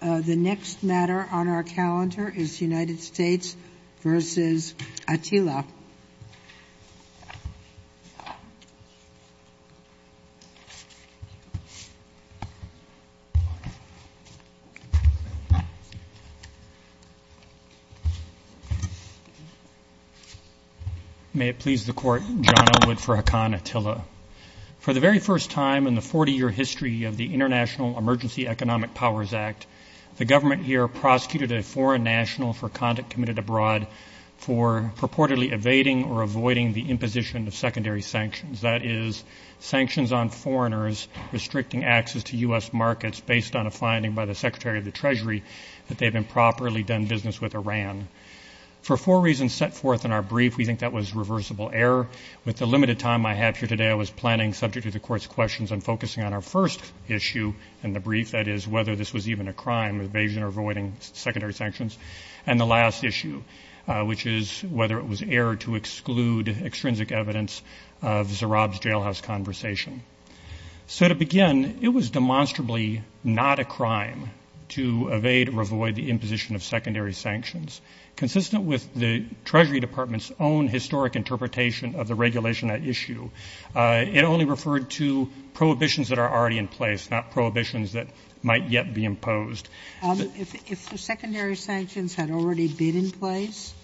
The next matter on our calendar is United States v. Attila. May it please the Court, John Elwood for Haakon Attila. For the very first time in the 40-year history of the International Emergency Economic Powers Act, the government here prosecuted a foreign national for conduct committed abroad for purportedly evading or avoiding the imposition of secondary sanctions, that is, sanctions on foreigners restricting access to U.S. markets based on a finding by the Secretary of the Treasury that they had improperly done business with Iran. For four reasons set forth in our brief, we think that was reversible error. With the limited time I have here today, I was planning, subject to the Court's questions, on focusing on our first issue in the brief, that is, whether this was even a crime, evasion or avoiding secondary sanctions, and the last issue, which is whether it was error to exclude extrinsic evidence of Zarab's jailhouse conversation. So to begin, it was demonstrably not a crime to evade or avoid the imposition of secondary sanctions. Consistent with the Treasury Department's own historic interpretation of the regulation at issue, it only referred to prohibitions that are already in place, not prohibitions that might yet be imposed. If the secondary sanctions had already been in place,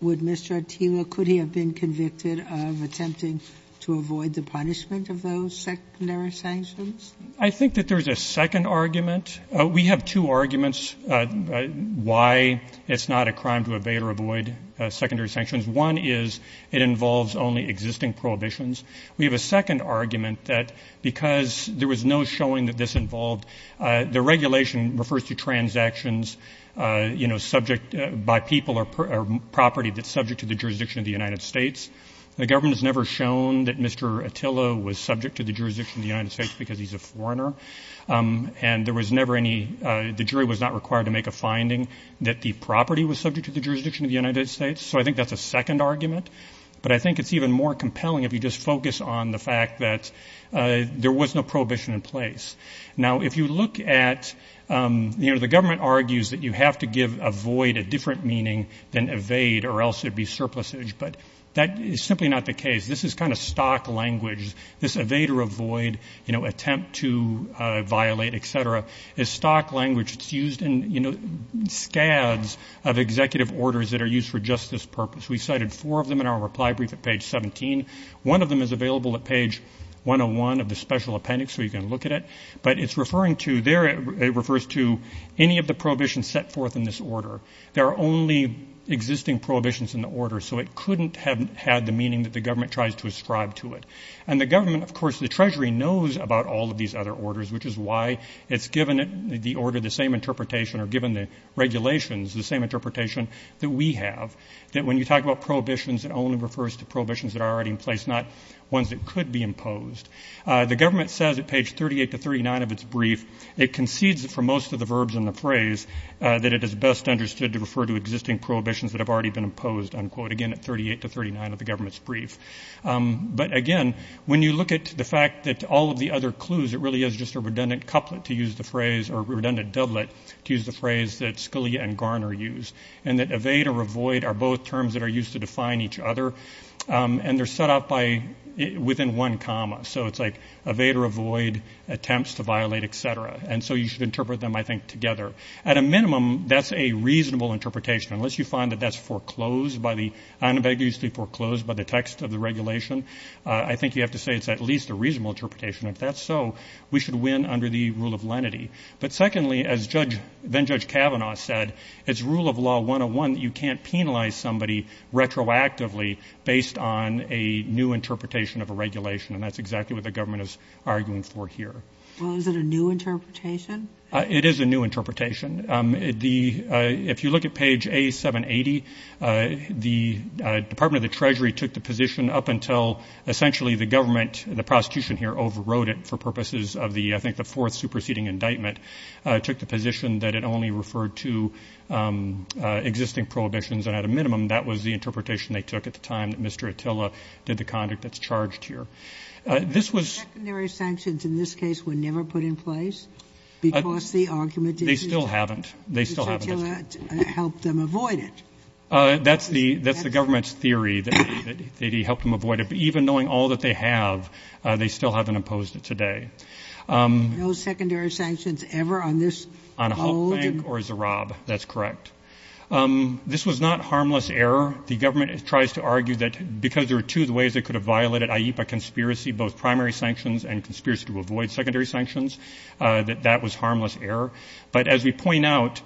would Mr. Attila, could he have been convicted of attempting to avoid the punishment of those secondary sanctions? I think that there is a second argument. We have two arguments why it's not a crime to evade or avoid secondary sanctions. One is it involves only existing prohibitions. We have a second argument that because there was no showing that this involved, the regulation refers to transactions, you know, subject by people or property that's subject to the jurisdiction of the United States. The government has never shown that Mr. Attila was subject to the jurisdiction of the United States because he's a foreigner. And there was never any, the jury was not required to make a finding that the property was subject to the jurisdiction of the United States. So I think that's a second argument. But I think it's even more compelling if you just focus on the fact that there was no prohibition in place. Now, if you look at, you know, the government argues that you have to give avoid a different meaning than evade or else there'd be surplusage. But that is simply not the case. This is kind of stock language. There's this evade or avoid, you know, attempt to violate, et cetera. It's stock language. It's used in, you know, scads of executive orders that are used for justice purpose. We cited four of them in our reply brief at page 17. One of them is available at page 101 of the special appendix, so you can look at it. But it's referring to, there it refers to any of the prohibitions set forth in this order. There are only existing prohibitions in the order, so it couldn't have had the meaning that the government tries to ascribe to it. And the government, of course, the Treasury knows about all of these other orders, which is why it's given the order the same interpretation or given the regulations the same interpretation that we have, that when you talk about prohibitions, it only refers to prohibitions that are already in place, not ones that could be imposed. The government says at page 38 to 39 of its brief, it concedes that for most of the verbs in the phrase that it is best understood to refer to existing prohibitions that have already been imposed, unquote, again at 38 to 39 of the government's brief. But, again, when you look at the fact that all of the other clues, it really is just a redundant couplet to use the phrase or redundant doublet to use the phrase that Scalia and Garner used, and that evade or avoid are both terms that are used to define each other, and they're set up by, within one comma. So it's like evade or avoid, attempts to violate, et cetera. And so you should interpret them, I think, together. At a minimum, that's a reasonable interpretation, unless you find that that's foreclosed by the, unambiguously foreclosed by the text of the regulation. I think you have to say it's at least a reasonable interpretation. If that's so, we should win under the rule of lenity. But, secondly, as Judge, then-Judge Kavanaugh said, it's rule of law 101 that you can't penalize somebody retroactively based on a new interpretation of a regulation, and that's exactly what the government is arguing for here. Well, is it a new interpretation? It is a new interpretation. If you look at page A780, the Department of the Treasury took the position up until essentially the government, the prostitution here overrode it for purposes of the, I think, the fourth superseding indictment, took the position that it only referred to existing prohibitions, and at a minimum that was the interpretation they took at the time that Mr. Attila did the conduct that's charged here. This was- Secondary sanctions in this case were never put in place because the argument is- They still haven't. They still haven't. Mr. Attila helped them avoid it. That's the government's theory, that he helped them avoid it. But even knowing all that they have, they still haven't imposed it today. No secondary sanctions ever on this hold? On Hope Bank or Zahrab. That's correct. This was not harmless error. The government tries to argue that because there are two ways they could have violated IEPA conspiracy, both primary sanctions and conspiracy to avoid secondary sanctions, that that was harmless error. But as we point out,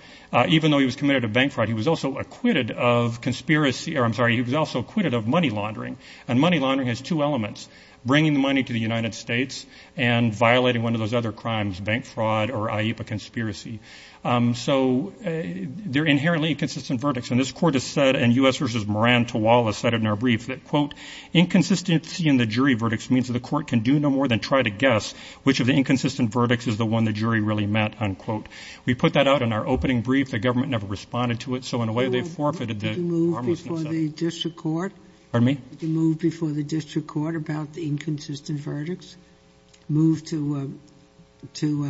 even though he was committed of bank fraud, he was also acquitted of conspiracy- or I'm sorry, he was also acquitted of money laundering. And money laundering has two elements, bringing the money to the United States and violating one of those other crimes, bank fraud or IEPA conspiracy. So they're inherently inconsistent verdicts. And this court has said, and U.S. versus Moran Tawala said it in our brief, that, quote, inconsistency in the jury verdicts means that the court can do no more than try to guess which of the inconsistent verdicts is the one the jury really meant, unquote. We put that out in our opening brief. The government never responded to it. So in a way they forfeited the harmlessness of it. Did you move before the district court? Pardon me? Did you move before the district court about the inconsistent verdicts? Move to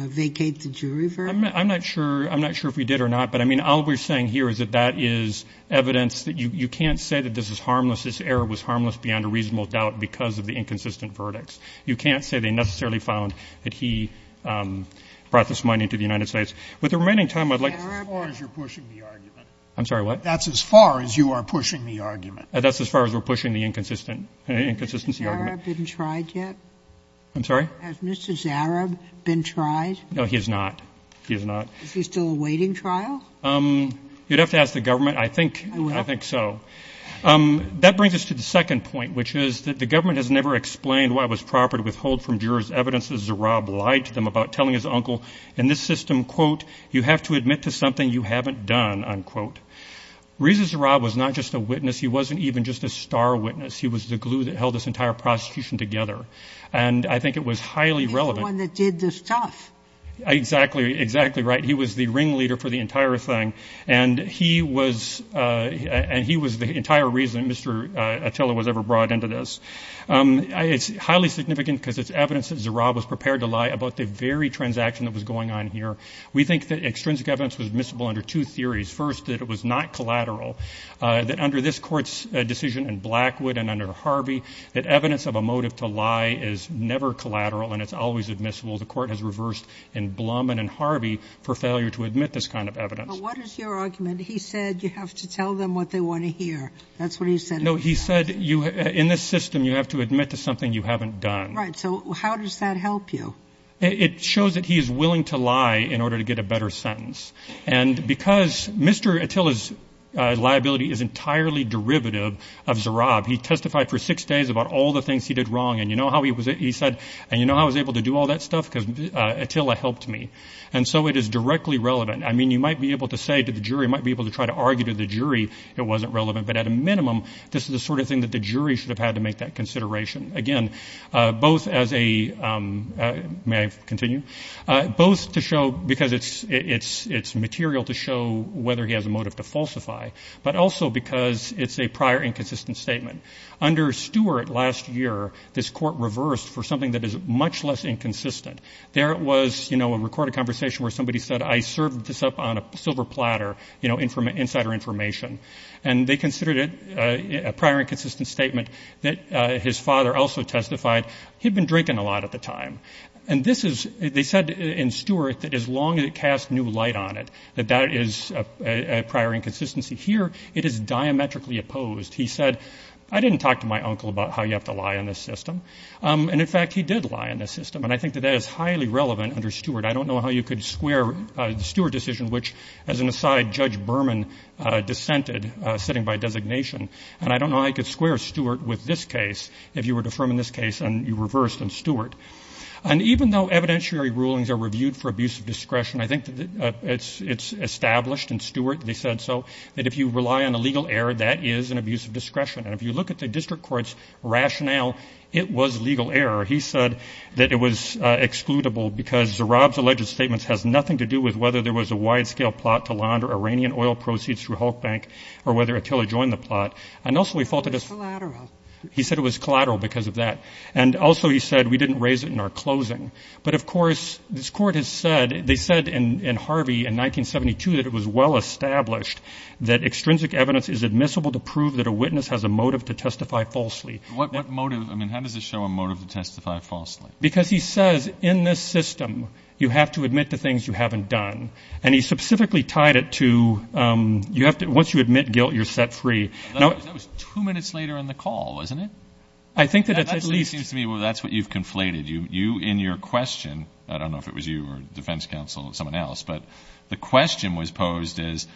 vacate the jury verdict? I'm not sure if we did or not. But, I mean, all we're saying here is that that is evidence that you can't say that this is harmless. This error was harmless beyond a reasonable doubt because of the inconsistent verdicts. You can't say they necessarily found that he brought this money to the United States. With the remaining time, I'd like to- That's as far as you're pushing the argument. I'm sorry, what? That's as far as you are pushing the argument. That's as far as we're pushing the inconsistent, inconsistency argument. Has Mr. Zahrab been tried yet? I'm sorry? Has Mr. Zahrab been tried? No, he has not. He has not. Is he still awaiting trial? You'd have to ask the government. I think so. That brings us to the second point, which is that the government has never explained why it was proper to withhold from jurors evidence that Zahrab lied to them about telling his uncle. In this system, quote, you have to admit to something you haven't done, unquote. Reza Zahrab was not just a witness. He wasn't even just a star witness. He was the glue that held this entire prosecution together. And I think it was highly relevant. He's the one that did the stuff. Exactly, exactly right. He was the ringleader for the entire thing, and he was the entire reason Mr. Attila was ever brought into this. It's highly significant because it's evidence that Zahrab was prepared to lie about the very transaction that was going on here. We think that extrinsic evidence was admissible under two theories. First, that it was not collateral, that under this court's decision in Blackwood and under Harvey, that evidence of a motive to lie is never collateral and it's always admissible. The court has reversed in Blum and in Harvey for failure to admit this kind of evidence. But what is your argument? He said you have to tell them what they want to hear. That's what he said. No, he said in this system you have to admit to something you haven't done. Right. So how does that help you? It shows that he is willing to lie in order to get a better sentence. And because Mr. Attila's liability is entirely derivative of Zahrab, he testified for six days about all the things he did wrong, and you know how he And so it is directly relevant. I mean, you might be able to say to the jury, you might be able to try to argue to the jury it wasn't relevant, but at a minimum this is the sort of thing that the jury should have had to make that consideration. Again, both as a – may I continue? Both to show because it's material to show whether he has a motive to falsify, but also because it's a prior inconsistent statement. Under Stewart last year, this court reversed for something that is much less inconsistent. There was, you know, a recorded conversation where somebody said, I served this up on a silver platter, you know, insider information. And they considered it a prior inconsistent statement that his father also testified he had been drinking a lot at the time. And this is – they said in Stewart that as long as it casts new light on it, that that is a prior inconsistency. Here it is diametrically opposed. He said, I didn't talk to my uncle about how you have to lie in this system. And, in fact, he did lie in this system. And I think that that is highly relevant under Stewart. I don't know how you could square the Stewart decision, which as an aside Judge Berman dissented sitting by designation. And I don't know how you could square Stewart with this case if you were to affirm in this case and you reversed in Stewart. And even though evidentiary rulings are reviewed for abuse of discretion, I think it's established in Stewart, they said so, that if you rely on a legal error, that is an abuse of discretion. And if you look at the district court's rationale, it was legal error. He said that it was excludable because Zahrab's alleged statements has nothing to do with whether there was a wide-scale plot to launder Iranian oil proceeds through Hulk Bank or whether Attila joined the plot. And also he faulted us. It was collateral. He said it was collateral because of that. And also he said we didn't raise it in our closing. But, of course, this court has said – they said in Harvey in 1972 that it was well established that extrinsic evidence is admissible to prove that a witness has a motive to testify falsely. What motive? I mean, how does it show a motive to testify falsely? Because he says in this system you have to admit to things you haven't done. And he specifically tied it to you have to – once you admit guilt, you're set free. That was two minutes later in the call, wasn't it? I think that at least – That seems to me that's what you've conflated. You in your question – I don't know if it was you or defense counsel, someone else, but the question was posed as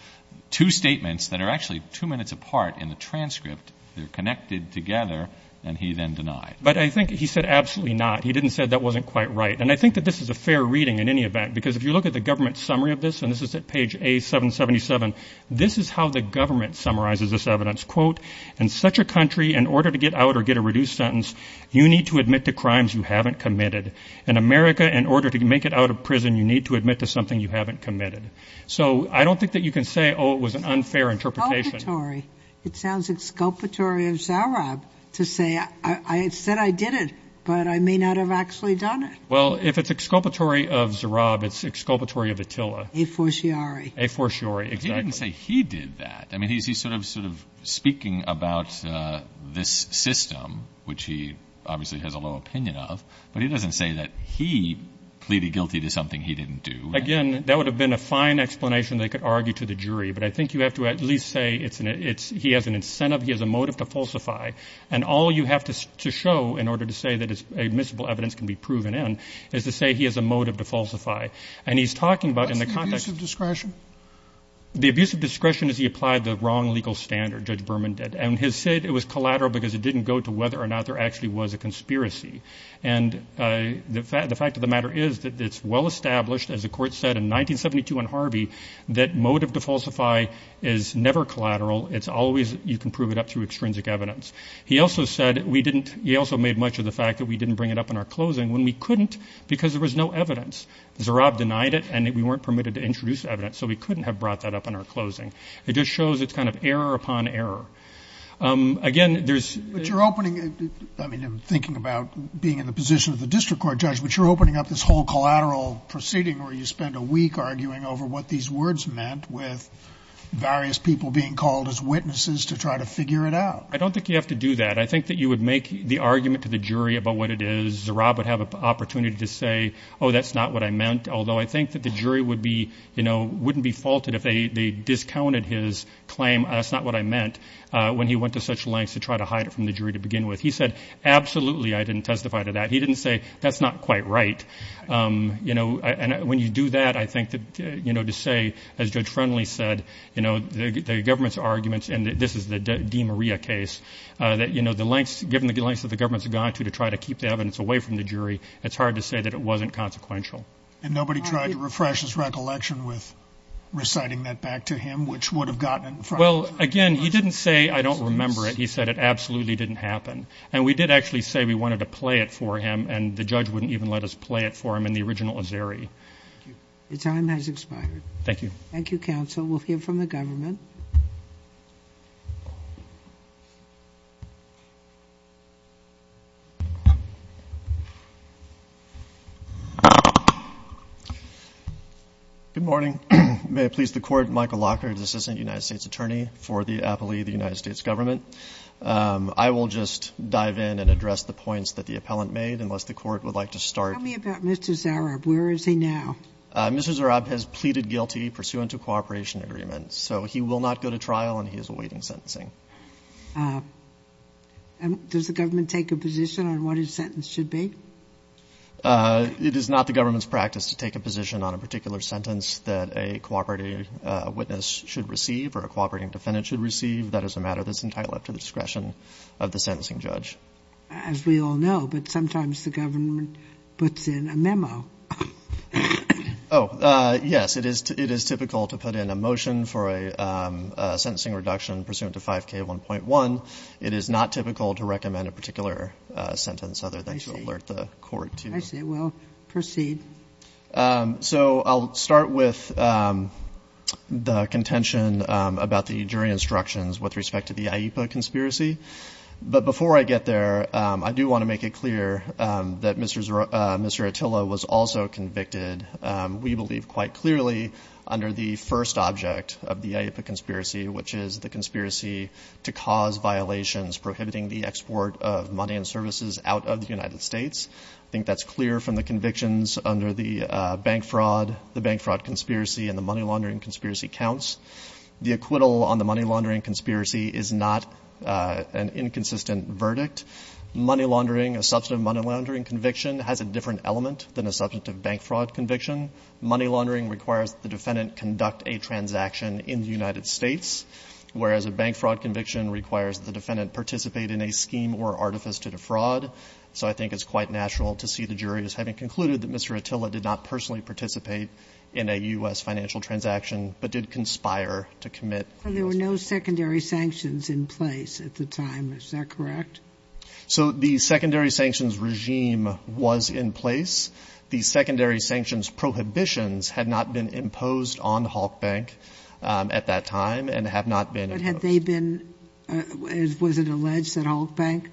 two statements that are actually two minutes apart in the transcript. They're connected together, and he then denied. But I think he said absolutely not. He didn't say that wasn't quite right. And I think that this is a fair reading in any event because if you look at the government summary of this – and this is at page A777 – this is how the government summarizes this evidence. Quote, in such a country, in order to get out or get a reduced sentence, you need to admit to crimes you haven't committed. In America, in order to make it out of prison, you need to admit to something you haven't committed. So I don't think that you can say, oh, it was an unfair interpretation. It's exculpatory. It sounds exculpatory of Zahrab to say, I said I did it, but I may not have actually done it. Well, if it's exculpatory of Zahrab, it's exculpatory of Attila. A forciore. A forciore, exactly. He didn't say he did that. I mean, he's sort of speaking about this system, which he obviously has a low opinion of, but he doesn't say that he pleaded guilty to something he didn't do. Again, that would have been a fine explanation they could argue to the jury, but I think you have to at least say he has an incentive, he has a motive to falsify, and all you have to show in order to say that admissible evidence can be proven in is to say he has a motive to falsify. And he's talking about – What's the abuse of discretion? The abuse of discretion is he applied the wrong legal standard, Judge Berman did, and he said it was collateral because it didn't go to whether or not there actually was a conspiracy. And the fact of the matter is that it's well established, as the court said in 1972 in Harvey, that motive to falsify is never collateral. It's always you can prove it up through extrinsic evidence. He also said we didn't – he also made much of the fact that we didn't bring it up in our closing when we couldn't because there was no evidence. Zahrab denied it, and we weren't permitted to introduce evidence, so we couldn't have brought that up in our closing. It just shows it's kind of error upon error. Again, there's – But you're opening – I mean, I'm thinking about being in the position of the district court judge, but you're opening up this whole collateral proceeding where you spend a week arguing over what these words meant with various people being called as witnesses to try to figure it out. I don't think you have to do that. I think that you would make the argument to the jury about what it is. Zahrab would have an opportunity to say, oh, that's not what I meant, although I think that the jury would be – wouldn't be faulted if they discounted his claim, that's not what I meant, when he went to such lengths to try to hide it from the jury to begin with. He said, absolutely, I didn't testify to that. He didn't say, that's not quite right. And when you do that, I think that to say, as Judge Friendly said, the government's arguments, and this is the DeMaria case, that given the lengths that the government's gone to to try to keep the evidence away from the jury, it's hard to say that it wasn't consequential. And nobody tried to refresh his recollection with reciting that back to him, which would have gotten him in front of the jury. Well, again, he didn't say, I don't remember it. He said, it absolutely didn't happen. And we did actually say we wanted to play it for him, and the judge wouldn't even let us play it for him in the original Azari. Your time has expired. Thank you. Thank you, counsel. We'll hear from the government. Good morning. May it please the Court, Michael Lockhart, assistant United States attorney for the appellee of the United States government. I will just dive in and address the points that the appellant made, unless the Court would like to start. Tell me about Mr. Zarab. Where is he now? Mr. Zarab has pleaded guilty pursuant to cooperation agreements. So he will not go to trial, and he is awaiting sentencing. Does the government take a position on what his sentence should be? It is not the government's practice to take a position on a particular sentence that a cooperating witness should receive, or a cooperating defendant should receive. That is a matter that is entirely up to the discretion of the sentencing judge. As we all know, but sometimes the government puts in a memo. Oh, yes. It is typical to put in a motion for a sentencing reduction pursuant to 5K1.1. It is not typical to recommend a particular sentence, other than to alert the Court to it. I see. Well, proceed. So I'll start with the contention about the jury instructions with respect to the IEPA conspiracy. But before I get there, I do want to make it clear that Mr. Atilla was also convicted, we believe, quite clearly, under the first object of the IEPA conspiracy, which is the conspiracy to cause violations prohibiting the export of money and services out of the United States. I think that's clear from the convictions under the bank fraud, the bank fraud conspiracy, and the money laundering conspiracy counts. The acquittal on the money laundering conspiracy is not an inconsistent verdict. Money laundering, a substantive money laundering conviction, has a different element than a substantive bank fraud conviction. Money laundering requires the defendant conduct a transaction in the United States, whereas a bank fraud conviction requires the defendant participate in a scheme or artifice to defraud. So I think it's quite natural to see the jury as having concluded that Mr. Atilla did not personally participate in a U.S. financial transaction but did conspire to commit. There were no secondary sanctions in place at the time. Is that correct? So the secondary sanctions regime was in place. The secondary sanctions prohibitions had not been imposed on Halk Bank at that time and have not been. But had they been, was it alleged that Halk Bank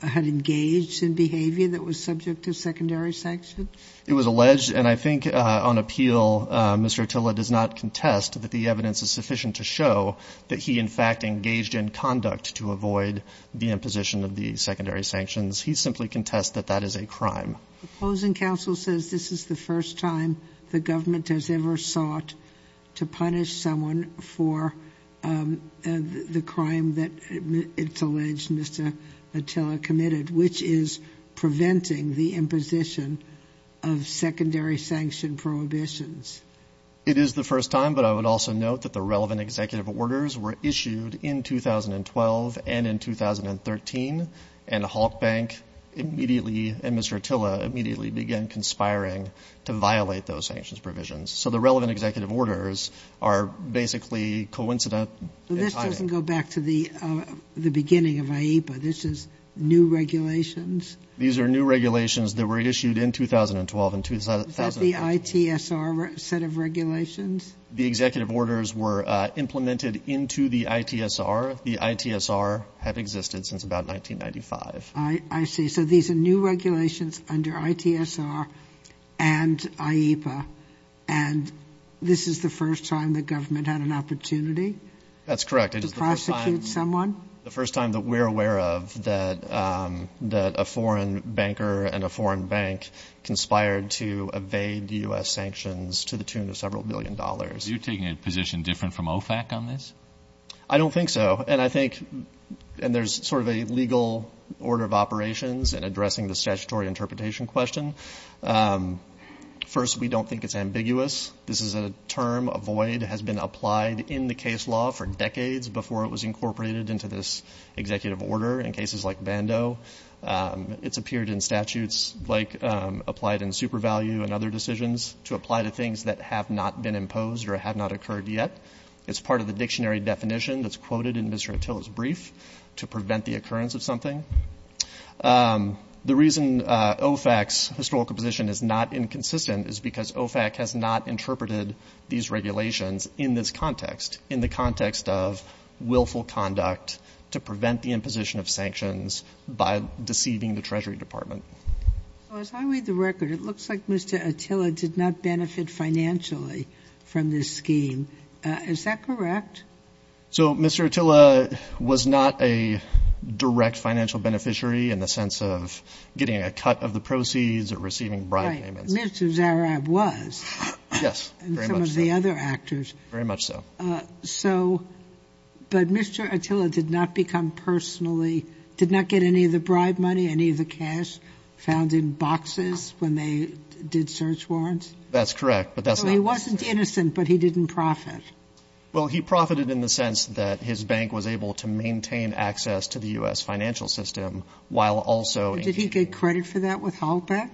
had engaged in behavior that was subject to secondary sanctions? It was alleged, and I think on appeal, Mr. Atilla does not contest that the evidence is sufficient to show that he, in fact, engaged in conduct to avoid the imposition of the secondary sanctions. He simply contests that that is a crime. The opposing counsel says this is the first time the government has ever sought to punish someone for the crime that it's alleged Mr. Atilla committed, which is preventing the imposition of secondary sanction prohibitions. It is the first time, but I would also note that the relevant executive orders were issued in 2012 and in 2013 and Halk Bank immediately and Mr. Atilla immediately began conspiring to violate those sanctions provisions. So the relevant executive orders are basically coincident. This doesn't go back to the beginning of IEPA. This is new regulations. These are new regulations that were issued in 2012 and 2013. Is that the ITSR set of regulations? The executive orders were implemented into the ITSR. The ITSR had existed since about 1995. I see. And so these are new regulations under ITSR and IEPA, and this is the first time the government had an opportunity? That's correct. To prosecute someone? The first time that we're aware of that a foreign banker and a foreign bank conspired to evade U.S. sanctions to the tune of several billion dollars. Are you taking a position different from OFAC on this? I don't think so. And I think there's sort of a legal order of operations in addressing the statutory interpretation question. First, we don't think it's ambiguous. This is a term, a void, has been applied in the case law for decades before it was incorporated into this executive order in cases like Bando. It's appeared in statutes like applied in super value and other decisions to apply to things that have not been imposed or have not occurred yet. It's part of the dictionary definition that's quoted in Mr. Attila's brief to prevent the occurrence of something. The reason OFAC's historical position is not inconsistent is because OFAC has not interpreted these regulations in this context, in the context of willful conduct to prevent the imposition of sanctions by deceiving the Treasury Department. So as I read the record, it looks like Mr. Attila did not benefit financially from this scheme. Is that correct? So Mr. Attila was not a direct financial beneficiary in the sense of getting a cut of the proceeds or receiving bribe payments. Right. Mr. Zarrab was. Yes, very much so. And some of the other actors. Very much so. So, but Mr. Attila did not become personally, did not get any of the bribe money, any of the cash found in boxes when they did search warrants? That's correct, but that's not. He wasn't innocent, but he didn't profit. Well, he profited in the sense that his bank was able to maintain access to the U.S. financial system while also. Did he get credit for that with Holbeck?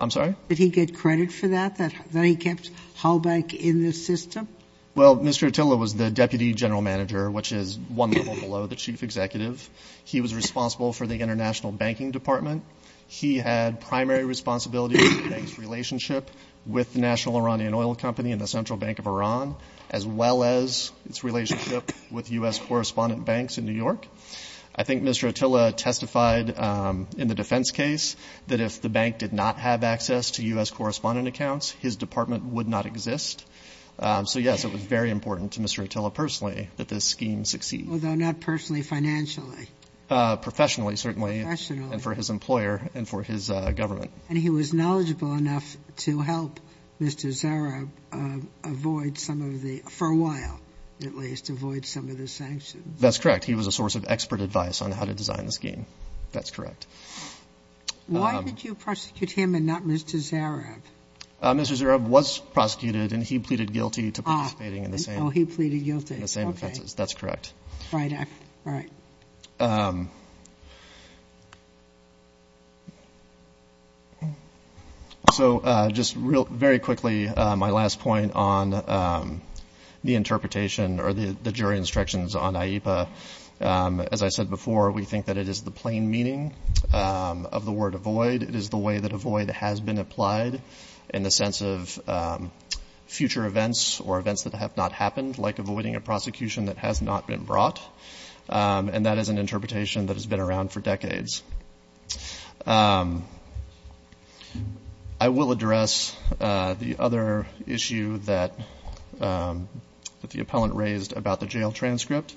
I'm sorry? Did he get credit for that, that he kept Holbeck in the system? Well, Mr. Attila was the deputy general manager, which is one level below the chief executive. He was responsible for the international banking department. He had primary responsibility for the bank's relationship with the National Iranian Oil Company and the Central Bank of Iran, as well as its relationship with U.S. correspondent banks in New York. I think Mr. Attila testified in the defense case that if the bank did not have access to U.S. correspondent accounts, his department would not exist. So, yes, it was very important to Mr. Attila personally that this scheme succeed. Although not personally, financially. Professionally, certainly. Professionally. And for his employer and for his government. And he was knowledgeable enough to help Mr. Zarrab avoid some of the, for a while at least, avoid some of the sanctions. That's correct. He was a source of expert advice on how to design the scheme. That's correct. Why did you prosecute him and not Mr. Zarrab? Mr. Zarrab was prosecuted, and he pleaded guilty to participating in the same. Oh, he pleaded guilty. That's correct. All right. So just very quickly, my last point on the interpretation or the jury instructions on IEPA. As I said before, we think that it is the plain meaning of the word avoid. It is the way that avoid has been applied in the sense of future events or events that have not happened, like avoiding a prosecution that has not been brought. And that is an interpretation that has been around for decades. I will address the other issue that the appellant raised about the jail transcript.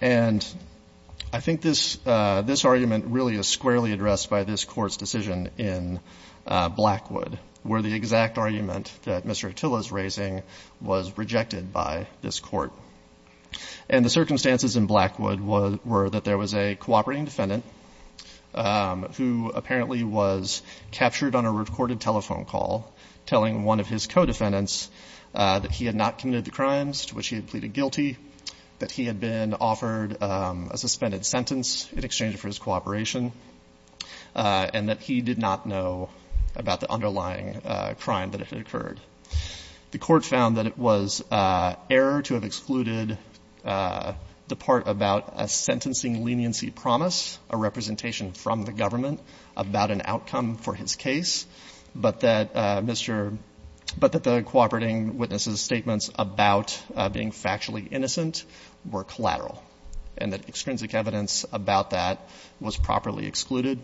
And I think this argument really is squarely addressed by this Court's decision in Blackwood, where the exact argument that Mr. Attila is raising was rejected by this Court. And the circumstances in Blackwood were that there was a cooperating defendant who apparently was captured on a recorded telephone call telling one of his co-defendants that he had not committed the crimes to which he had pleaded guilty, that he had been offered a suspended sentence in exchange for his cooperation, and that he did not know about the underlying crime that had occurred. The Court found that it was error to have excluded the part about a sentencing leniency promise, a representation from the government about an outcome for his case, but that the cooperating witness's statements about being factually innocent were collateral and that extrinsic evidence about that was properly excluded.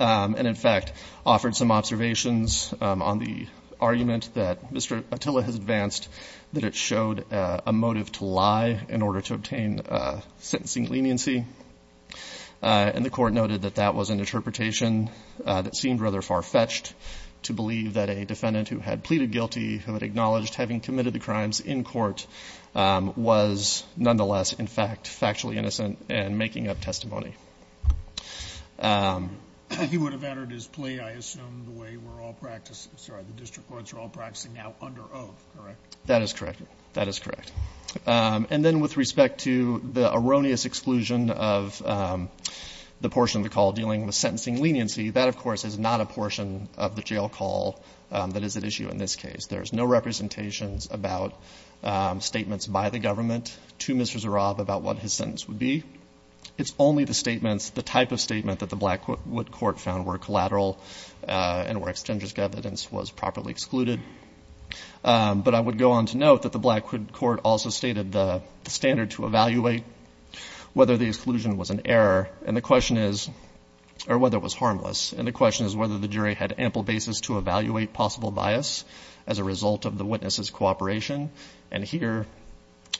And, in fact, offered some observations on the argument that Mr. Attila has advanced that it showed a motive to lie in order to obtain a sentencing leniency. And the Court noted that that was an interpretation that seemed rather far-fetched to believe that a defendant who had pleaded guilty, who had acknowledged having committed the crimes in court, was nonetheless, in fact, factually innocent and making up testimony. He would have entered his plea, I assume, the way we're all practicing. Sorry, the district courts are all practicing now under oath, correct? That is correct. That is correct. And then with respect to the erroneous exclusion of the portion of the call dealing with sentencing leniency, that, of course, is not a portion of the jail call that is at issue in this case. There's no representations about statements by the government to Mr. Zorab about what his sentence would be. It's only the statements, the type of statement, that the Blackwood Court found were collateral and where extrinsic evidence was properly excluded. But I would go on to note that the Blackwood Court also stated the standard to evaluate whether the exclusion was an error and the question is, or whether it was harmless, and the question is whether the jury had ample basis to evaluate possible bias as a result of the witness's cooperation. And here,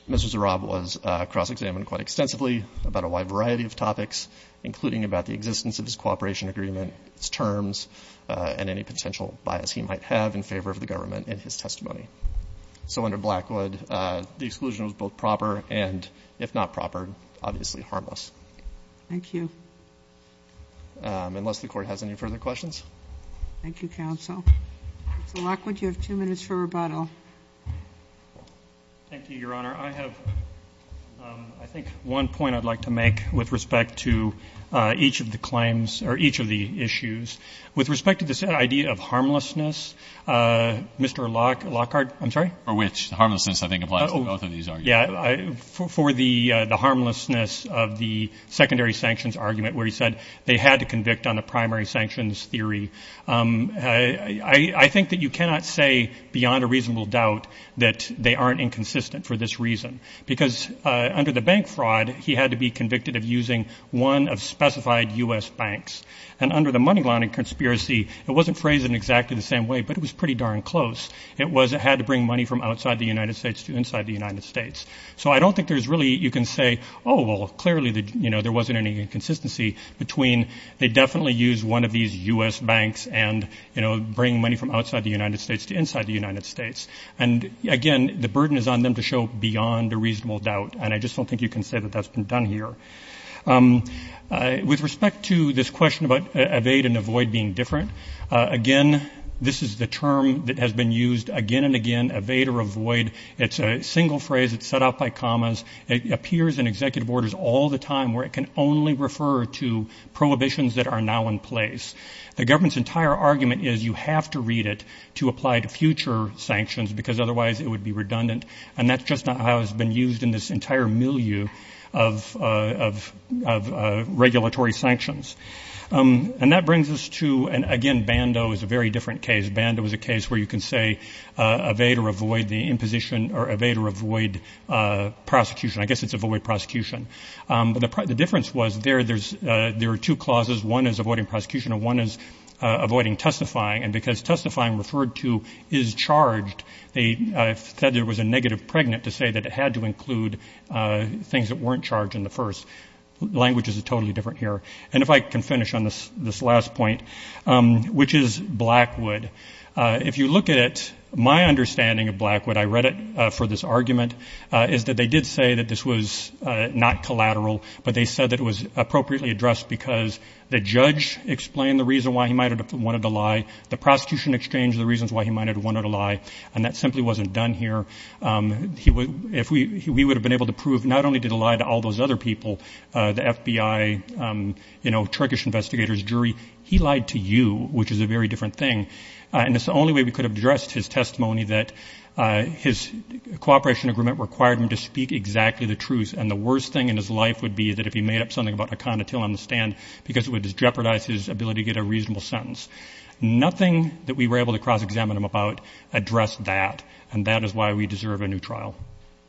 Mr. Zorab was cross-examined quite extensively about a wide variety of topics, including about the existence of his cooperation agreement, its terms, and any potential bias he might have in favor of the government in his testimony. So under Blackwood, the exclusion was both proper and, if not proper, obviously harmless. Thank you. Unless the Court has any further questions. Thank you, Counsel. Mr. Blackwood, you have two minutes for rebuttal. Thank you, Your Honor. Your Honor, I have, I think, one point I'd like to make with respect to each of the claims or each of the issues. With respect to this idea of harmlessness, Mr. Lockhart, I'm sorry? For which? Harmlessness, I think, applies to both of these arguments. Yeah. For the harmlessness of the secondary sanctions argument where he said they had to convict on the primary sanctions theory, I think that you cannot say beyond a reasonable doubt that they aren't inconsistent for this reason. Because under the bank fraud, he had to be convicted of using one of specified U.S. banks. And under the money laundering conspiracy, it wasn't phrased in exactly the same way, but it was pretty darn close. It was it had to bring money from outside the United States to inside the United States. So I don't think there's really, you can say, oh, well, clearly, you know, there wasn't any inconsistency between they definitely used one of these U.S. banks and, you know, bringing money from outside the United States to inside the United States. And, again, the burden is on them to show beyond a reasonable doubt. And I just don't think you can say that that's been done here. With respect to this question about evade and avoid being different, again, this is the term that has been used again and again, evade or avoid. It's a single phrase. It's set up by commas. It appears in executive orders all the time where it can only refer to prohibitions that are now in place. The government's entire argument is you have to read it to apply to future sanctions because otherwise it would be redundant. And that's just not how it's been used in this entire milieu of regulatory sanctions. And that brings us to, again, Bando is a very different case. Bando is a case where you can say evade or avoid the imposition or evade or avoid prosecution. I guess it's avoid prosecution. But the difference was there are two clauses. One is avoiding prosecution and one is avoiding testifying. And because testifying referred to is charged, I said there was a negative pregnant to say that it had to include things that weren't charged in the first. Language is totally different here. And if I can finish on this last point, which is Blackwood. If you look at it, my understanding of Blackwood, I read it for this argument, is that they did say that this was not collateral, but they said that it was appropriately addressed because the judge explained the reason why he might have wanted to lie. The prosecution exchanged the reasons why he might have wanted to lie. And that simply wasn't done here. If we would have been able to prove not only did he lie to all those other people, the FBI, you know, Turkish investigators, jury, he lied to you, which is a very different thing. And it's the only way we could have addressed his testimony that his cooperation agreement required him to speak exactly the truth. And the worst thing in his life would be that if he made up something about a connotation on the stand because it would jeopardize his ability to get a reasonable sentence. Nothing that we were able to cross-examine him about addressed that. And that is why we deserve a new trial.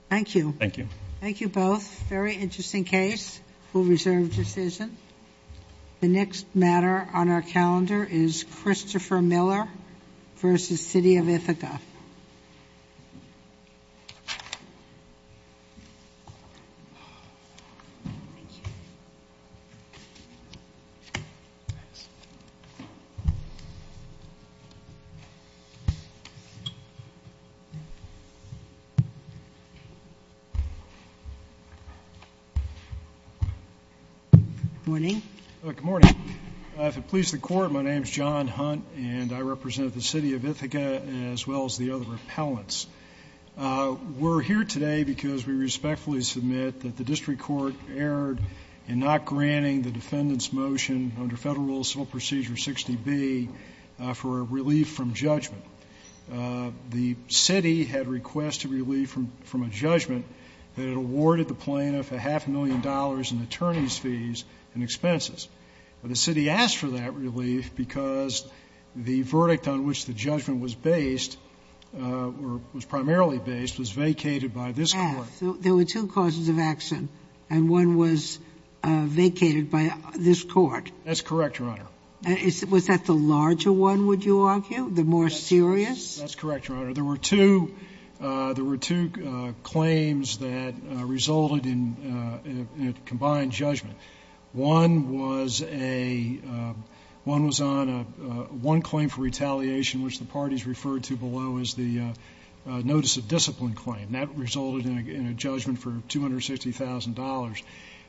Thank you. Thank you. Thank you both. Very interesting case. We'll reserve decision. The next matter on our calendar is Christopher Miller v. City of Ithaca. Good morning. Good morning. If it pleases the Court, my name is John Hunt, and I represent the City of Ithaca as well as the other appellants. We're here today because we respectfully submit that the district court erred in not granting the defendant's motion under Federal Rule Civil Procedure 60B for a relief from judgment. The city had requested relief from a judgment that it awarded the plaintiff a half million dollars in attorney's fees and expenses. But the city asked for that relief because the verdict on which the judgment was based or was primarily based was vacated by this court. There were two causes of action, and one was vacated by this court. That's correct, Your Honor. Was that the larger one, would you argue? The more serious? That's correct, Your Honor. There were two claims that resulted in a combined judgment. One was on one claim for retaliation, which the parties referred to below as the notice of discipline claim, and that resulted in a judgment for $260,000.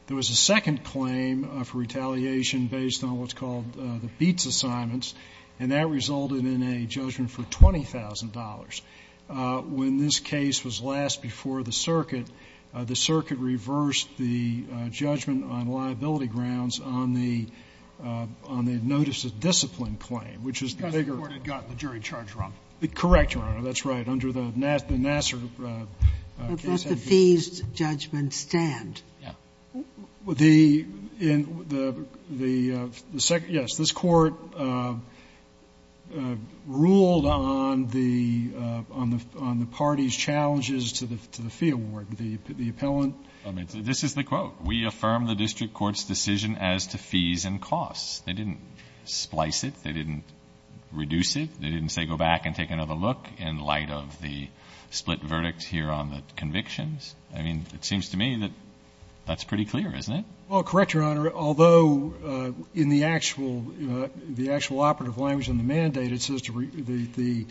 There was a second claim for retaliation based on what's called the BEATS assignments, and that resulted in a judgment for $20,000. When this case was last before the circuit, the circuit reversed the judgment on liability grounds on the notice of discipline claim, which is the bigger one. Because the court had gotten the jury charge wrong. Correct, Your Honor. That's right. Under the Nassar case. But does the fees judgment stand? Yeah. The second, yes, this Court ruled on the parties' challenges to the fee award. The appellant. This is the quote. We affirm the district court's decision as to fees and costs. They didn't splice it. They didn't reduce it. They didn't say go back and take another look in light of the split verdict here on the convictions. I mean, it seems to me that that's pretty clear, isn't it? Well, correct, Your Honor. Although in the actual operative language in the mandate, it says the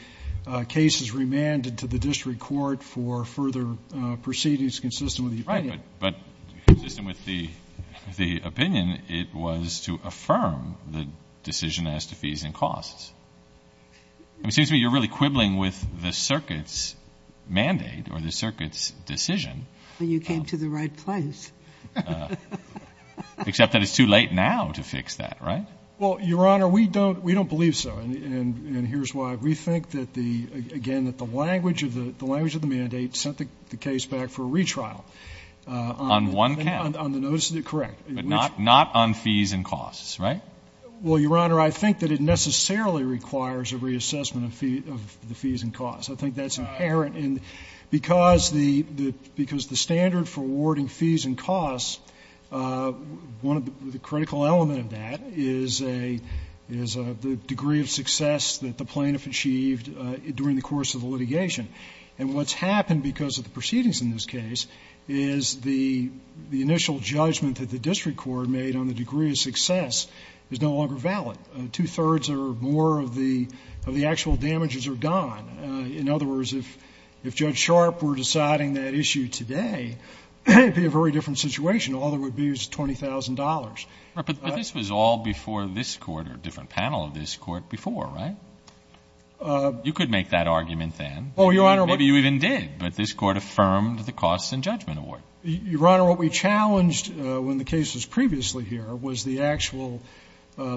case is remanded to the district court for further proceedings consistent with the opinion. Right, but consistent with the opinion, it was to affirm the decision as to fees and costs. It seems to me you're really quibbling with the circuit's mandate or the circuit's decision. You came to the right place. Except that it's too late now to fix that, right? Well, Your Honor, we don't believe so. And here's why. We think that the, again, that the language of the mandate sent the case back for a retrial. On one count. On the notice of the correct. But not on fees and costs, right? Well, Your Honor, I think that it necessarily requires a reassessment of the fees and costs. I think that's inherent. And because the standard for awarding fees and costs, one of the critical element of that is a degree of success that the plaintiff achieved during the course of the litigation. And what's happened because of the proceedings in this case is the initial judgment that the district court made on the degree of success is no longer valid. Two-thirds or more of the actual damages are gone. In other words, if Judge Sharp were deciding that issue today, it would be a very different situation. All there would be is $20,000. But this was all before this court or a different panel of this court before, right? You could make that argument then. Oh, Your Honor. Maybe you even did. But this court affirmed the costs and judgment award. Your Honor, what we challenged when the case was previously here was the actual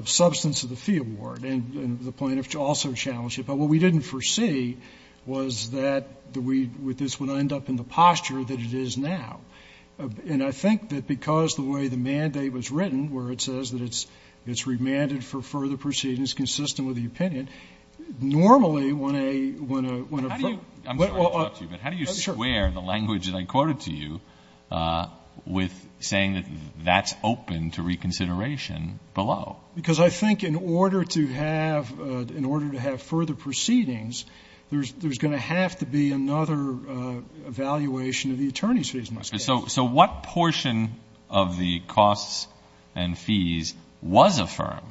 substance of the fee award. And the plaintiff also challenged it. What we didn't foresee was that this would end up in the posture that it is now. And I think that because the way the mandate was written, where it says that it's remanded for further proceedings consistent with the opinion, normally when a ---- I'm sorry to interrupt you. But how do you square the language that I quoted to you with saying that that's open to reconsideration below? Because I think in order to have further proceedings, there's going to have to be another evaluation of the attorney's fees in this case. So what portion of the costs and fees was affirmed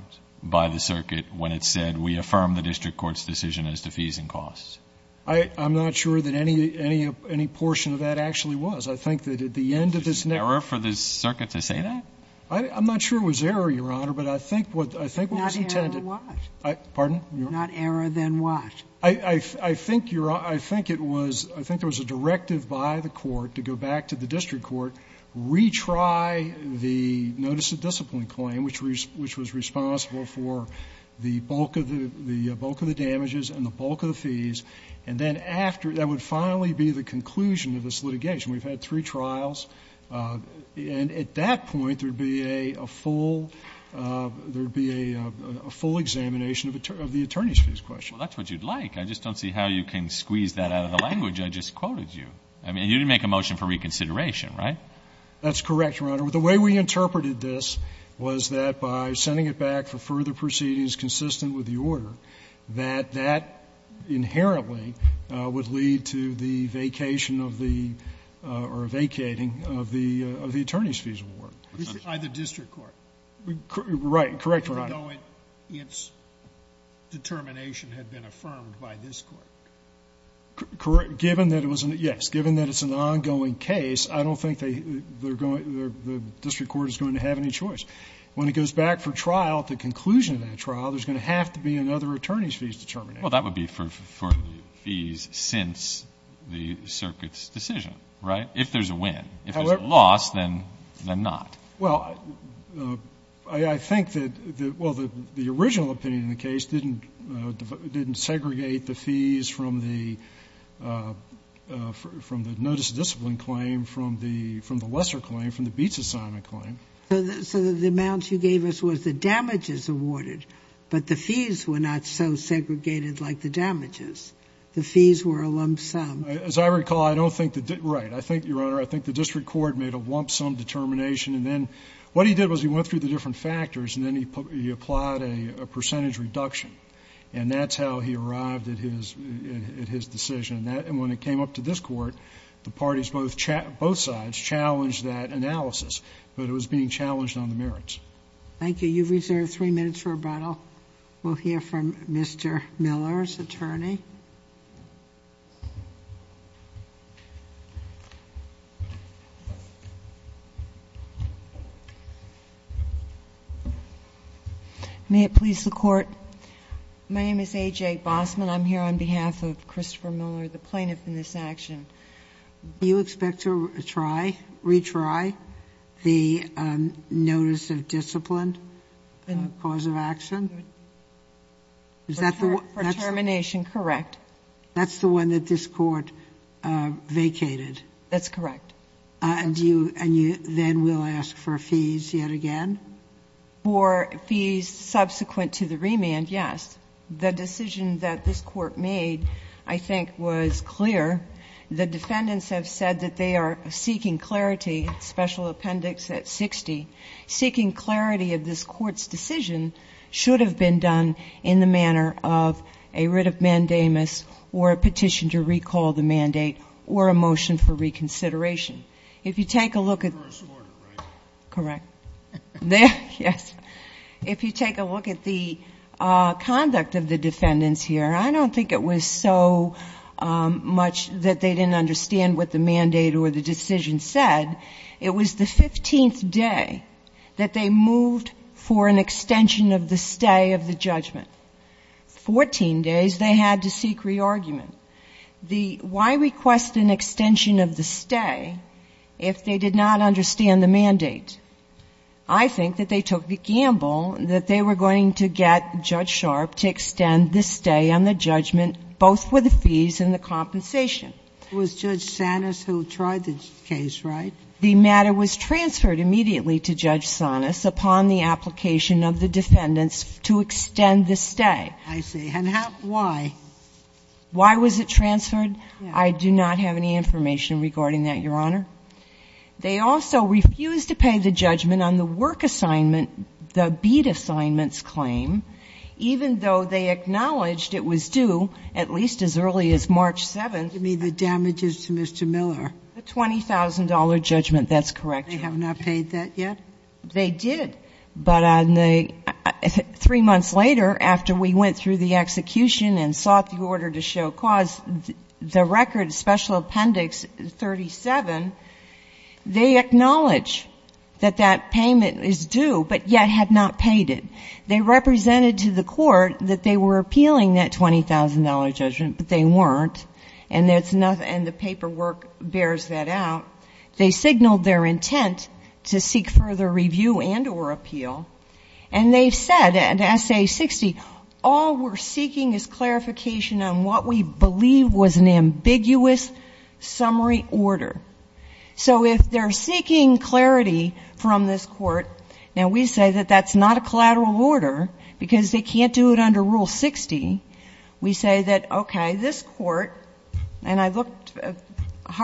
by the circuit when it said, we affirm the district court's decision as to fees and costs? I'm not sure that any portion of that actually was. I think that at the end of this ---- Is it an error for this circuit to say that? I'm not sure it was error, Your Honor, but I think what was intended ---- Not error, then what? Pardon? Not error, then what? I think, Your Honor, I think it was ---- I think there was a directive by the court to go back to the district court, retry the notice of discipline claim, which was responsible for the bulk of the damages and the bulk of the fees. And then after, that would finally be the conclusion of this litigation. We've had three trials. And at that point, there would be a full ---- there would be a full examination of the attorney's fees question. Well, that's what you'd like. I just don't see how you can squeeze that out of the language I just quoted you. I mean, you didn't make a motion for reconsideration, right? That's correct, Your Honor. The way we interpreted this was that by sending it back for further proceedings consistent with the order, that that inherently would lead to the vacation of the or vacating of the attorney's fees award. By the district court. Right. Correct, Your Honor. Even though its determination had been affirmed by this court. Correct. Given that it was an ---- yes. Given that it's an ongoing case, I don't think they're going to ---- the district court is going to have any choice. When it goes back for trial, the conclusion of that trial, there's going to have to be another attorney's fees determination. Well, that would be for the fees since the circuit's decision, right? If there's a win. If there's a loss, then not. Well, I think that the original opinion in the case didn't segregate the fees from the notice of discipline claim from the lesser claim, from the beats assignment claim. So the amount you gave us was the damages awarded, but the fees were not so segregated like the damages. The fees were a lump sum. As I recall, I don't think the ---- right. I think, Your Honor, I think the district court made a lump sum determination and then what he did was he went through the different factors and then he applied a percentage reduction. And that's how he arrived at his decision. And when it came up to this court, the parties both sides challenged that analysis, but it was being challenged on the merits. Thank you. You've reserved three minutes for rebuttal. We'll hear from Mr. Miller's attorney. May it please the Court? My name is A.J. Bossman. I'm here on behalf of Christopher Miller, the plaintiff in this action. Do you expect to try, retry the notice of discipline cause of action? Is that the one? For termination, correct. That's the one that this court vacated? That's correct. And you then will ask for fees yet again? For fees subsequent to the remand, yes. The decision that this court made, I think, was clear. The defendants have said that they are seeking clarity, special appendix at 60. Seeking clarity of this court's decision should have been done in the manner of a writ of mandamus or a petition to recall the mandate or a motion for reconsideration. If you take a look at the conduct of the defendants here, I don't think it was so much that they didn't understand what the mandate or the decision said. It was the 15th day that they moved for an extension of the stay of the judgment. Fourteen days they had to seek re-argument. Why request an extension of the stay if they did not understand the mandate? I think that they took the gamble that they were going to get Judge Sharp to extend the stay on the judgment, both for the fees and the compensation. It was Judge Sanis who tried the case, right? The matter was transferred immediately to Judge Sanis upon the application of the defendants to extend the stay. I see. And why? Why was it transferred? I do not have any information regarding that, Your Honor. They also refused to pay the judgment on the work assignment, the bead assignments claim, even though they acknowledged it was due at least as early as March 7th. You mean the damages to Mr. Miller? The $20,000 judgment, that's correct, Your Honor. They have not paid that yet? They did. But three months later, after we went through the execution and sought the order to show cause, the record, Special Appendix 37, they acknowledge that that payment is due, but yet had not paid it. They represented to the court that they were appealing that $20,000 judgment, but they weren't, and the paperwork bears that out. They signaled their intent to seek further review and or appeal, and they said, in Essay 60, all we're seeking is clarification on what we believe was an ambiguous summary order. So if they're seeking clarity from this court, and we say that that's not a collateral order because they can't do it under Rule 60, we say that, okay, this court, and I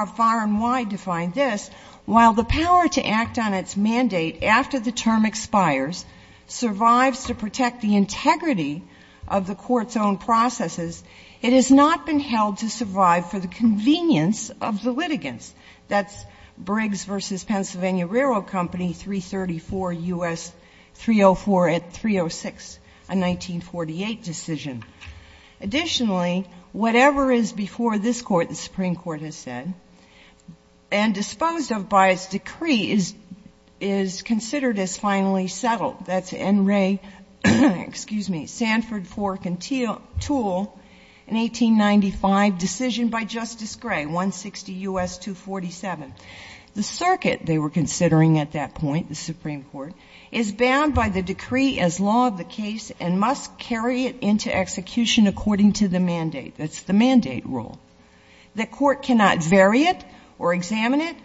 tried to find this, while the power to act on its mandate after the term expires survives to protect the integrity of the court's own processes, it has not been held to survive for the convenience of the litigants. That's Briggs v. Pennsylvania Railroad Company, 334 U.S. 304 at 306, a 1948 decision. Additionally, whatever is before this Court, the Supreme Court has said, and disposed of by its decree is considered as finally settled. That's N. Ray, excuse me, Sanford, Fork, and Toole in 1895, decision by Justice Gray, 160 U.S. 247. The circuit, they were considering at that point, the Supreme Court, is bound by the execution according to the mandate. That's the mandate rule. The court cannot vary it or examine it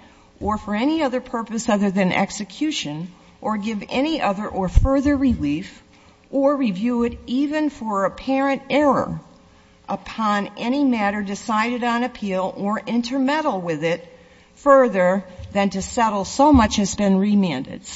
or for any other purpose other than execution or give any other or further relief or review it even for apparent error upon any matter decided on appeal or intermeddle with it further than to settle so much has been the case. And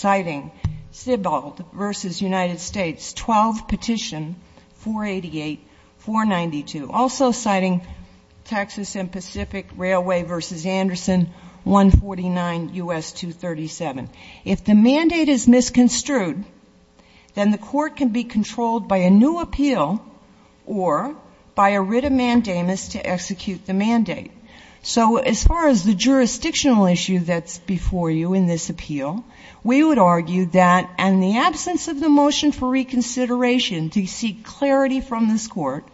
so, as far as the jurisdictional issue that's before you in this appeal, we would argue that in the absence of the motion for reconsideration to seek clarity from the Supreme Court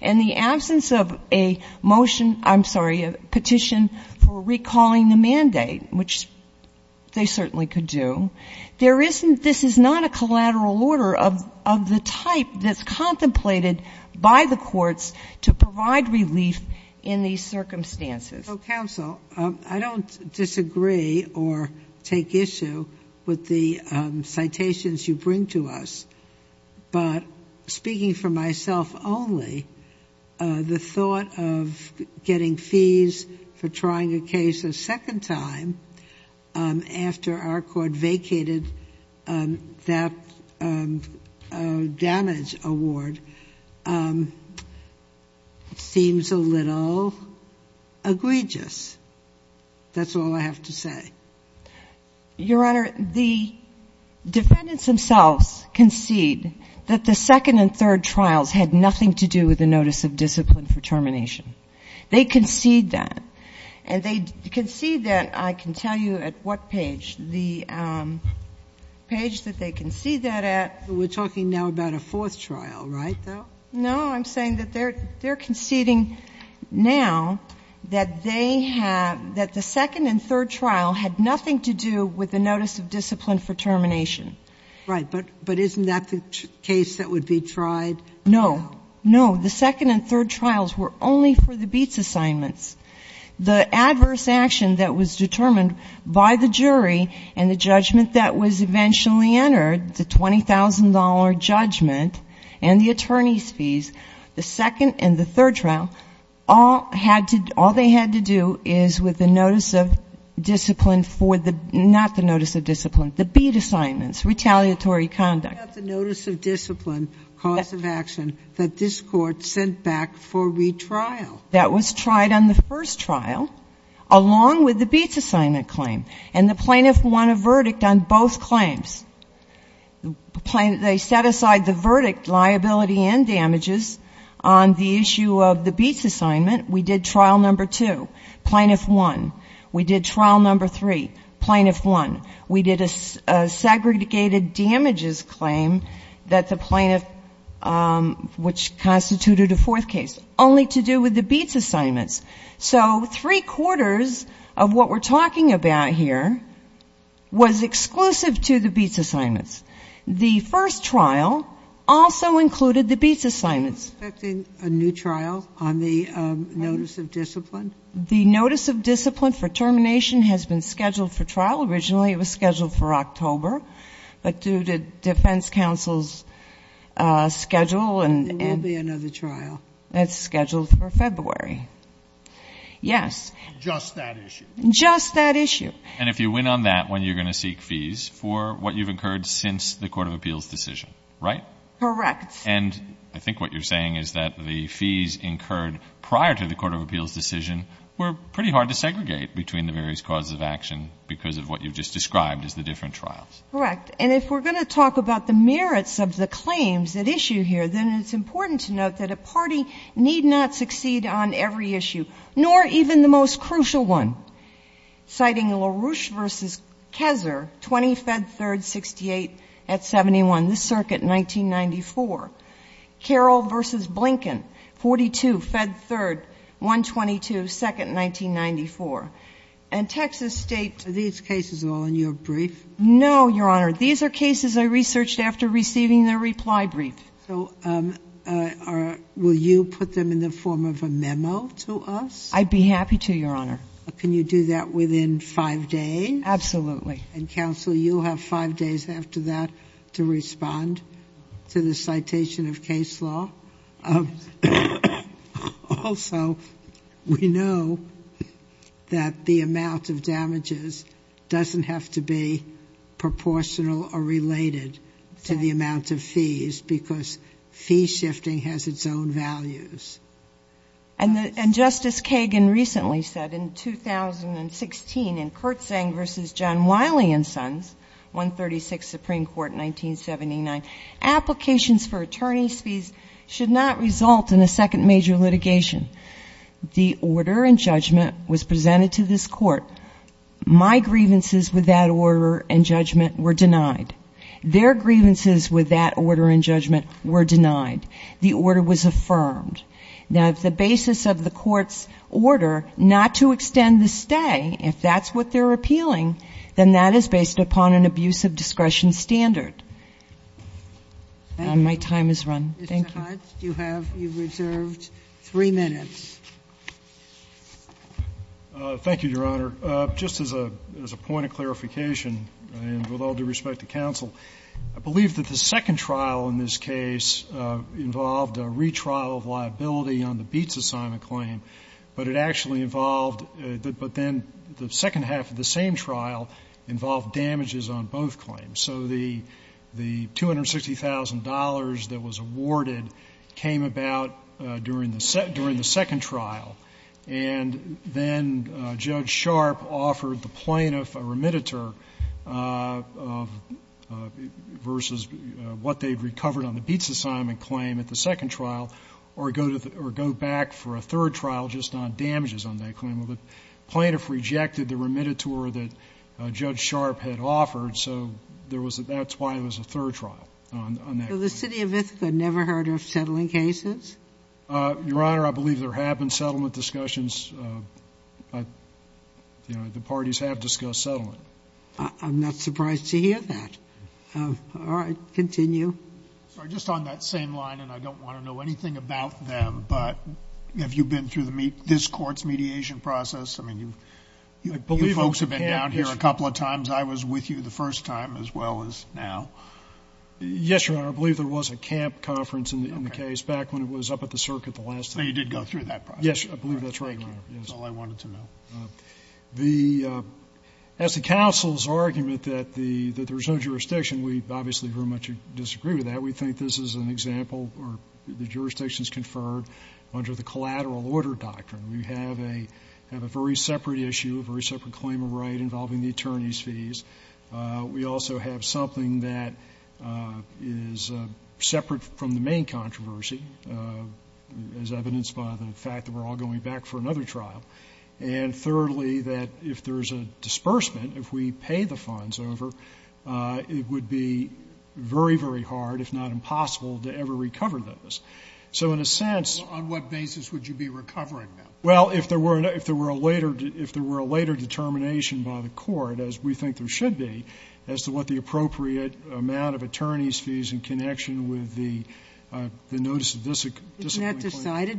and the absence of a motion, I'm sorry, a petition for recalling the mandate, which they certainly could do, there isn't, this is not a collateral order of the type that's contemplated by the courts to provide relief in these circumstances. Ginsburg. So, counsel, I don't disagree or take issue with the citations you bring to us, but speaking for myself only, the thought of getting fees for trying a case a second time after our court vacated that damage award seems a little egregious. That's all I have to say. Your Honor, the defendants themselves concede that the second and third trials had nothing to do with the notice of discipline for termination. They concede that. And they concede that, I can tell you at what page, the page that they concede that at. We're talking now about a fourth trial, right, though? No, I'm saying that they're conceding now that they have, that the second and third trial had nothing to do with the notice of discipline for termination. Right. But isn't that the case that would be tried? No. No. The second and third trials were only for the beats assignments. The adverse action that was determined by the jury and the judgment that was eventually entered, the $20,000 judgment and the attorney's fees, the second and third trials had nothing to do with the notice of discipline for the, not the notice of discipline, the beat assignments, retaliatory conduct. But not the notice of discipline, cause of action, that this Court sent back for retrial. That was tried on the first trial, along with the beats assignment claim. And the plaintiff won a verdict on both claims. They set aside the verdict, liability and damages, on the issue of the beats assignment. We did trial number two. Plaintiff won. We did trial number three. Plaintiff won. We did a segregated damages claim that the plaintiff, which constituted a fourth case, only to do with the beats assignments. So three quarters of what we're talking about here was exclusive to the beats assignments. The first trial also included the beats assignments. Are you expecting a new trial on the notice of discipline? The notice of discipline for termination has been scheduled for trial. Originally it was scheduled for October. But due to defense counsel's schedule. There will be another trial. It's scheduled for February. Yes. Just that issue. Just that issue. And if you win on that one, you're going to seek fees for what you've incurred since the Court of Appeals decision, right? Correct. And I think what you're saying is that the fees incurred prior to the Court of Appeals decision were pretty hard to segregate between the various causes of action because of what you've just described as the different trials. Correct. And if we're going to talk about the merits of the claims at issue here, then it's important to note that a party need not succeed on every issue, nor even the most crucial one. Citing LaRouche v. Kessler, 20 Fed Third, 68 at 71, this circuit, 1994. Carroll v. Blinken, 42 Fed Third, 122, second, 1994. And Texas State. Are these cases all in your brief? No, Your Honor. These are cases I researched after receiving the reply brief. So will you put them in the form of a memo to us? I'd be happy to, Your Honor. Can you do that within five days? Absolutely. And, Counsel, you'll have five days after that to respond to the citation of Kessler. Also, we know that the amount of damages doesn't have to be proportional or because fee shifting has its own values. And, Justice Kagan, recently said in 2016 in Zeng v. John Wiley v. Sons 136 Supreme Court, 1979, applications for attorney fees should not result in a second major litigation, the order and judgment was presented to this court. My grievances with that order and judgment were denied. Their grievances with that order and judgment were denied. The order was affirmed. Now, if the basis of the court's order not to extend the stay, if that's what they're appealing, then that is based upon an abuse of discretion standard. My time has run. Thank you. Mr. Hunt, you have reserved three minutes. Thank you, Your Honor. Just as a point of clarification, and with all due respect to counsel, I believe that the second trial in this case involved a retrial of liability on the Beetz assignment claim, but it actually involved, but then the second half of the same trial involved damages on both claims. So the $260,000 that was awarded came about during the second trial, and then Judge Sharp offered the plaintiff a remediator versus what they've recovered on the Beetz assignment claim at the second trial, or go back for a third trial just on damages on that claim. Well, the plaintiff rejected the remediator that Judge Sharp had offered, so there was a, that's why it was a third trial on that claim. So the City of Ithaca never heard of settling cases? Your Honor, I believe there have been settlement discussions. You know, the parties have discussed settlement. I'm not surprised to hear that. All right, continue. Sorry, just on that same line, and I don't want to know anything about them, but have you been through this court's mediation process? I mean, you folks have been down here a couple of times. I was with you the first time as well as now. Yes, Your Honor. I believe there was a camp conference in the case back when it was up at the circuit the last time. So you did go through that process? Yes, I believe that's right, Your Honor. Thank you. That's all I wanted to know. As the counsel's argument that there's no jurisdiction, we obviously very much disagree with that. We think this is an example where the jurisdiction is conferred under the collateral order doctrine. We have a very separate issue, a very separate claim of right involving the attorney's fees. We also have something that is separate from the main controversy, as evidenced by the fact that we're all going back for another trial. And thirdly, that if there's a disbursement, if we pay the funds over, it would be very, very hard, if not impossible, to ever recover those. So in a sense On what basis would you be recovering them? It's not decided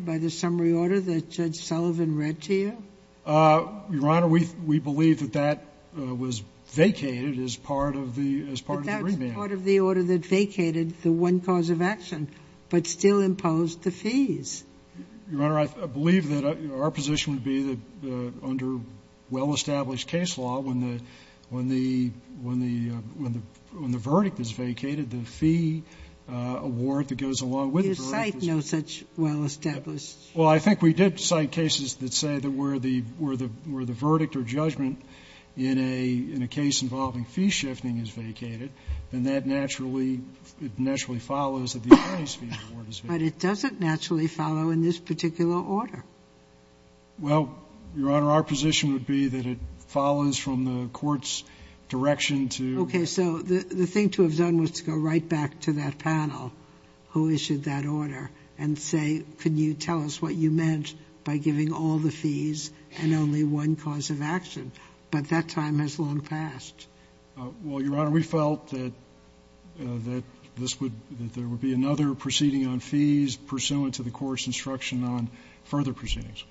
by the summary order that Judge Sullivan read to you? Your Honor, we believe that that was vacated as part of the remand. But that was part of the order that vacated the one cause of action, but still imposed the fees. Your Honor, I believe that our position would be that under well-established case law, when the case is reimbursed, when the verdict is vacated, the fee award that goes along with the verdict is You cite no such well-established. Well, I think we did cite cases that say that where the verdict or judgment in a case involving fee shifting is vacated, then that naturally follows that the attorney's fee award is vacated. But it doesn't naturally follow in this particular order. Well, Your Honor, our position would be that it follows from the court's direction to Okay. So the thing to have done was to go right back to that panel who issued that order and say, Can you tell us what you meant by giving all the fees and only one cause of action? But that time has long passed. Well, Your Honor, we felt that this would that there would be another proceeding on fees pursuant to the court's instruction on further proceedings.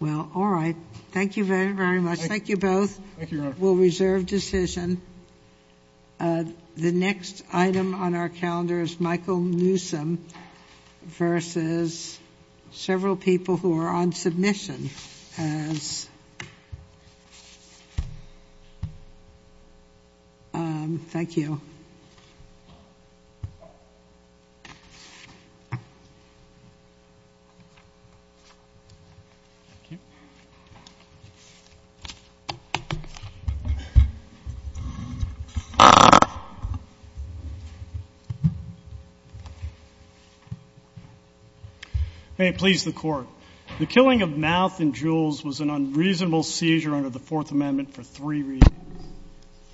Well, all right. Thank you very, very much. Thank you both. Thank you, Your Honor. We'll reserve decision. The next item on our calendar is Michael Newsom versus several people who are on submission as Thank you. May it please the Court. The killing of Mouth and Jewels was an unreasonable seizure under the Fourth Amendment for three reasons.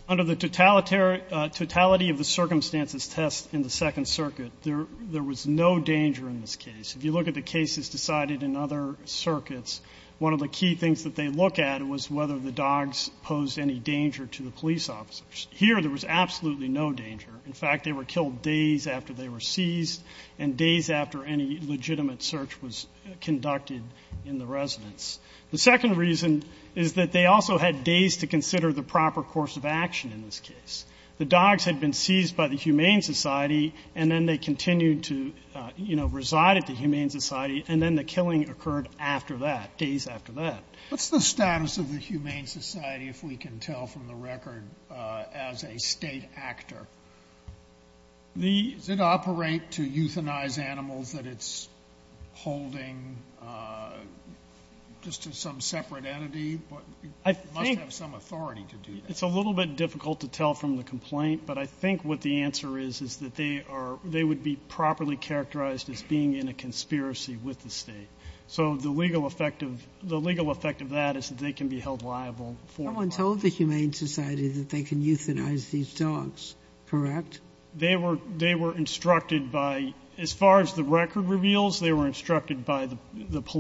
Under the totality of the circumstances test in the Second Circuit, there was no danger in this case. If you look at the cases decided in other circuits, one of the key things that they look at was whether the dogs posed any danger to the police officers. Here, there was absolutely no danger. In fact, they were killed days after they were seized and days after any legitimate search was conducted in the residence. The second reason is that they also had days to consider the proper course of action in this case. The dogs had been seized by the Humane Society, and then they continued to, you know, reside at the Humane Society, and then the killing occurred after that, days after that. What's the status of the Humane Society, if we can tell from the record, as a state actor? Does it operate to euthanize animals that it's holding just to some separate entity? It must have some authority to do that. It's a little bit difficult to tell from the complaint, but I think what the answer is is that they would be properly characterized as being in a conspiracy with the state. So the legal effect of that is that they can be held liable. Someone told the Humane Society that they can euthanize these dogs, correct? They were instructed by, as far as the record reveals, they were instructed by the police.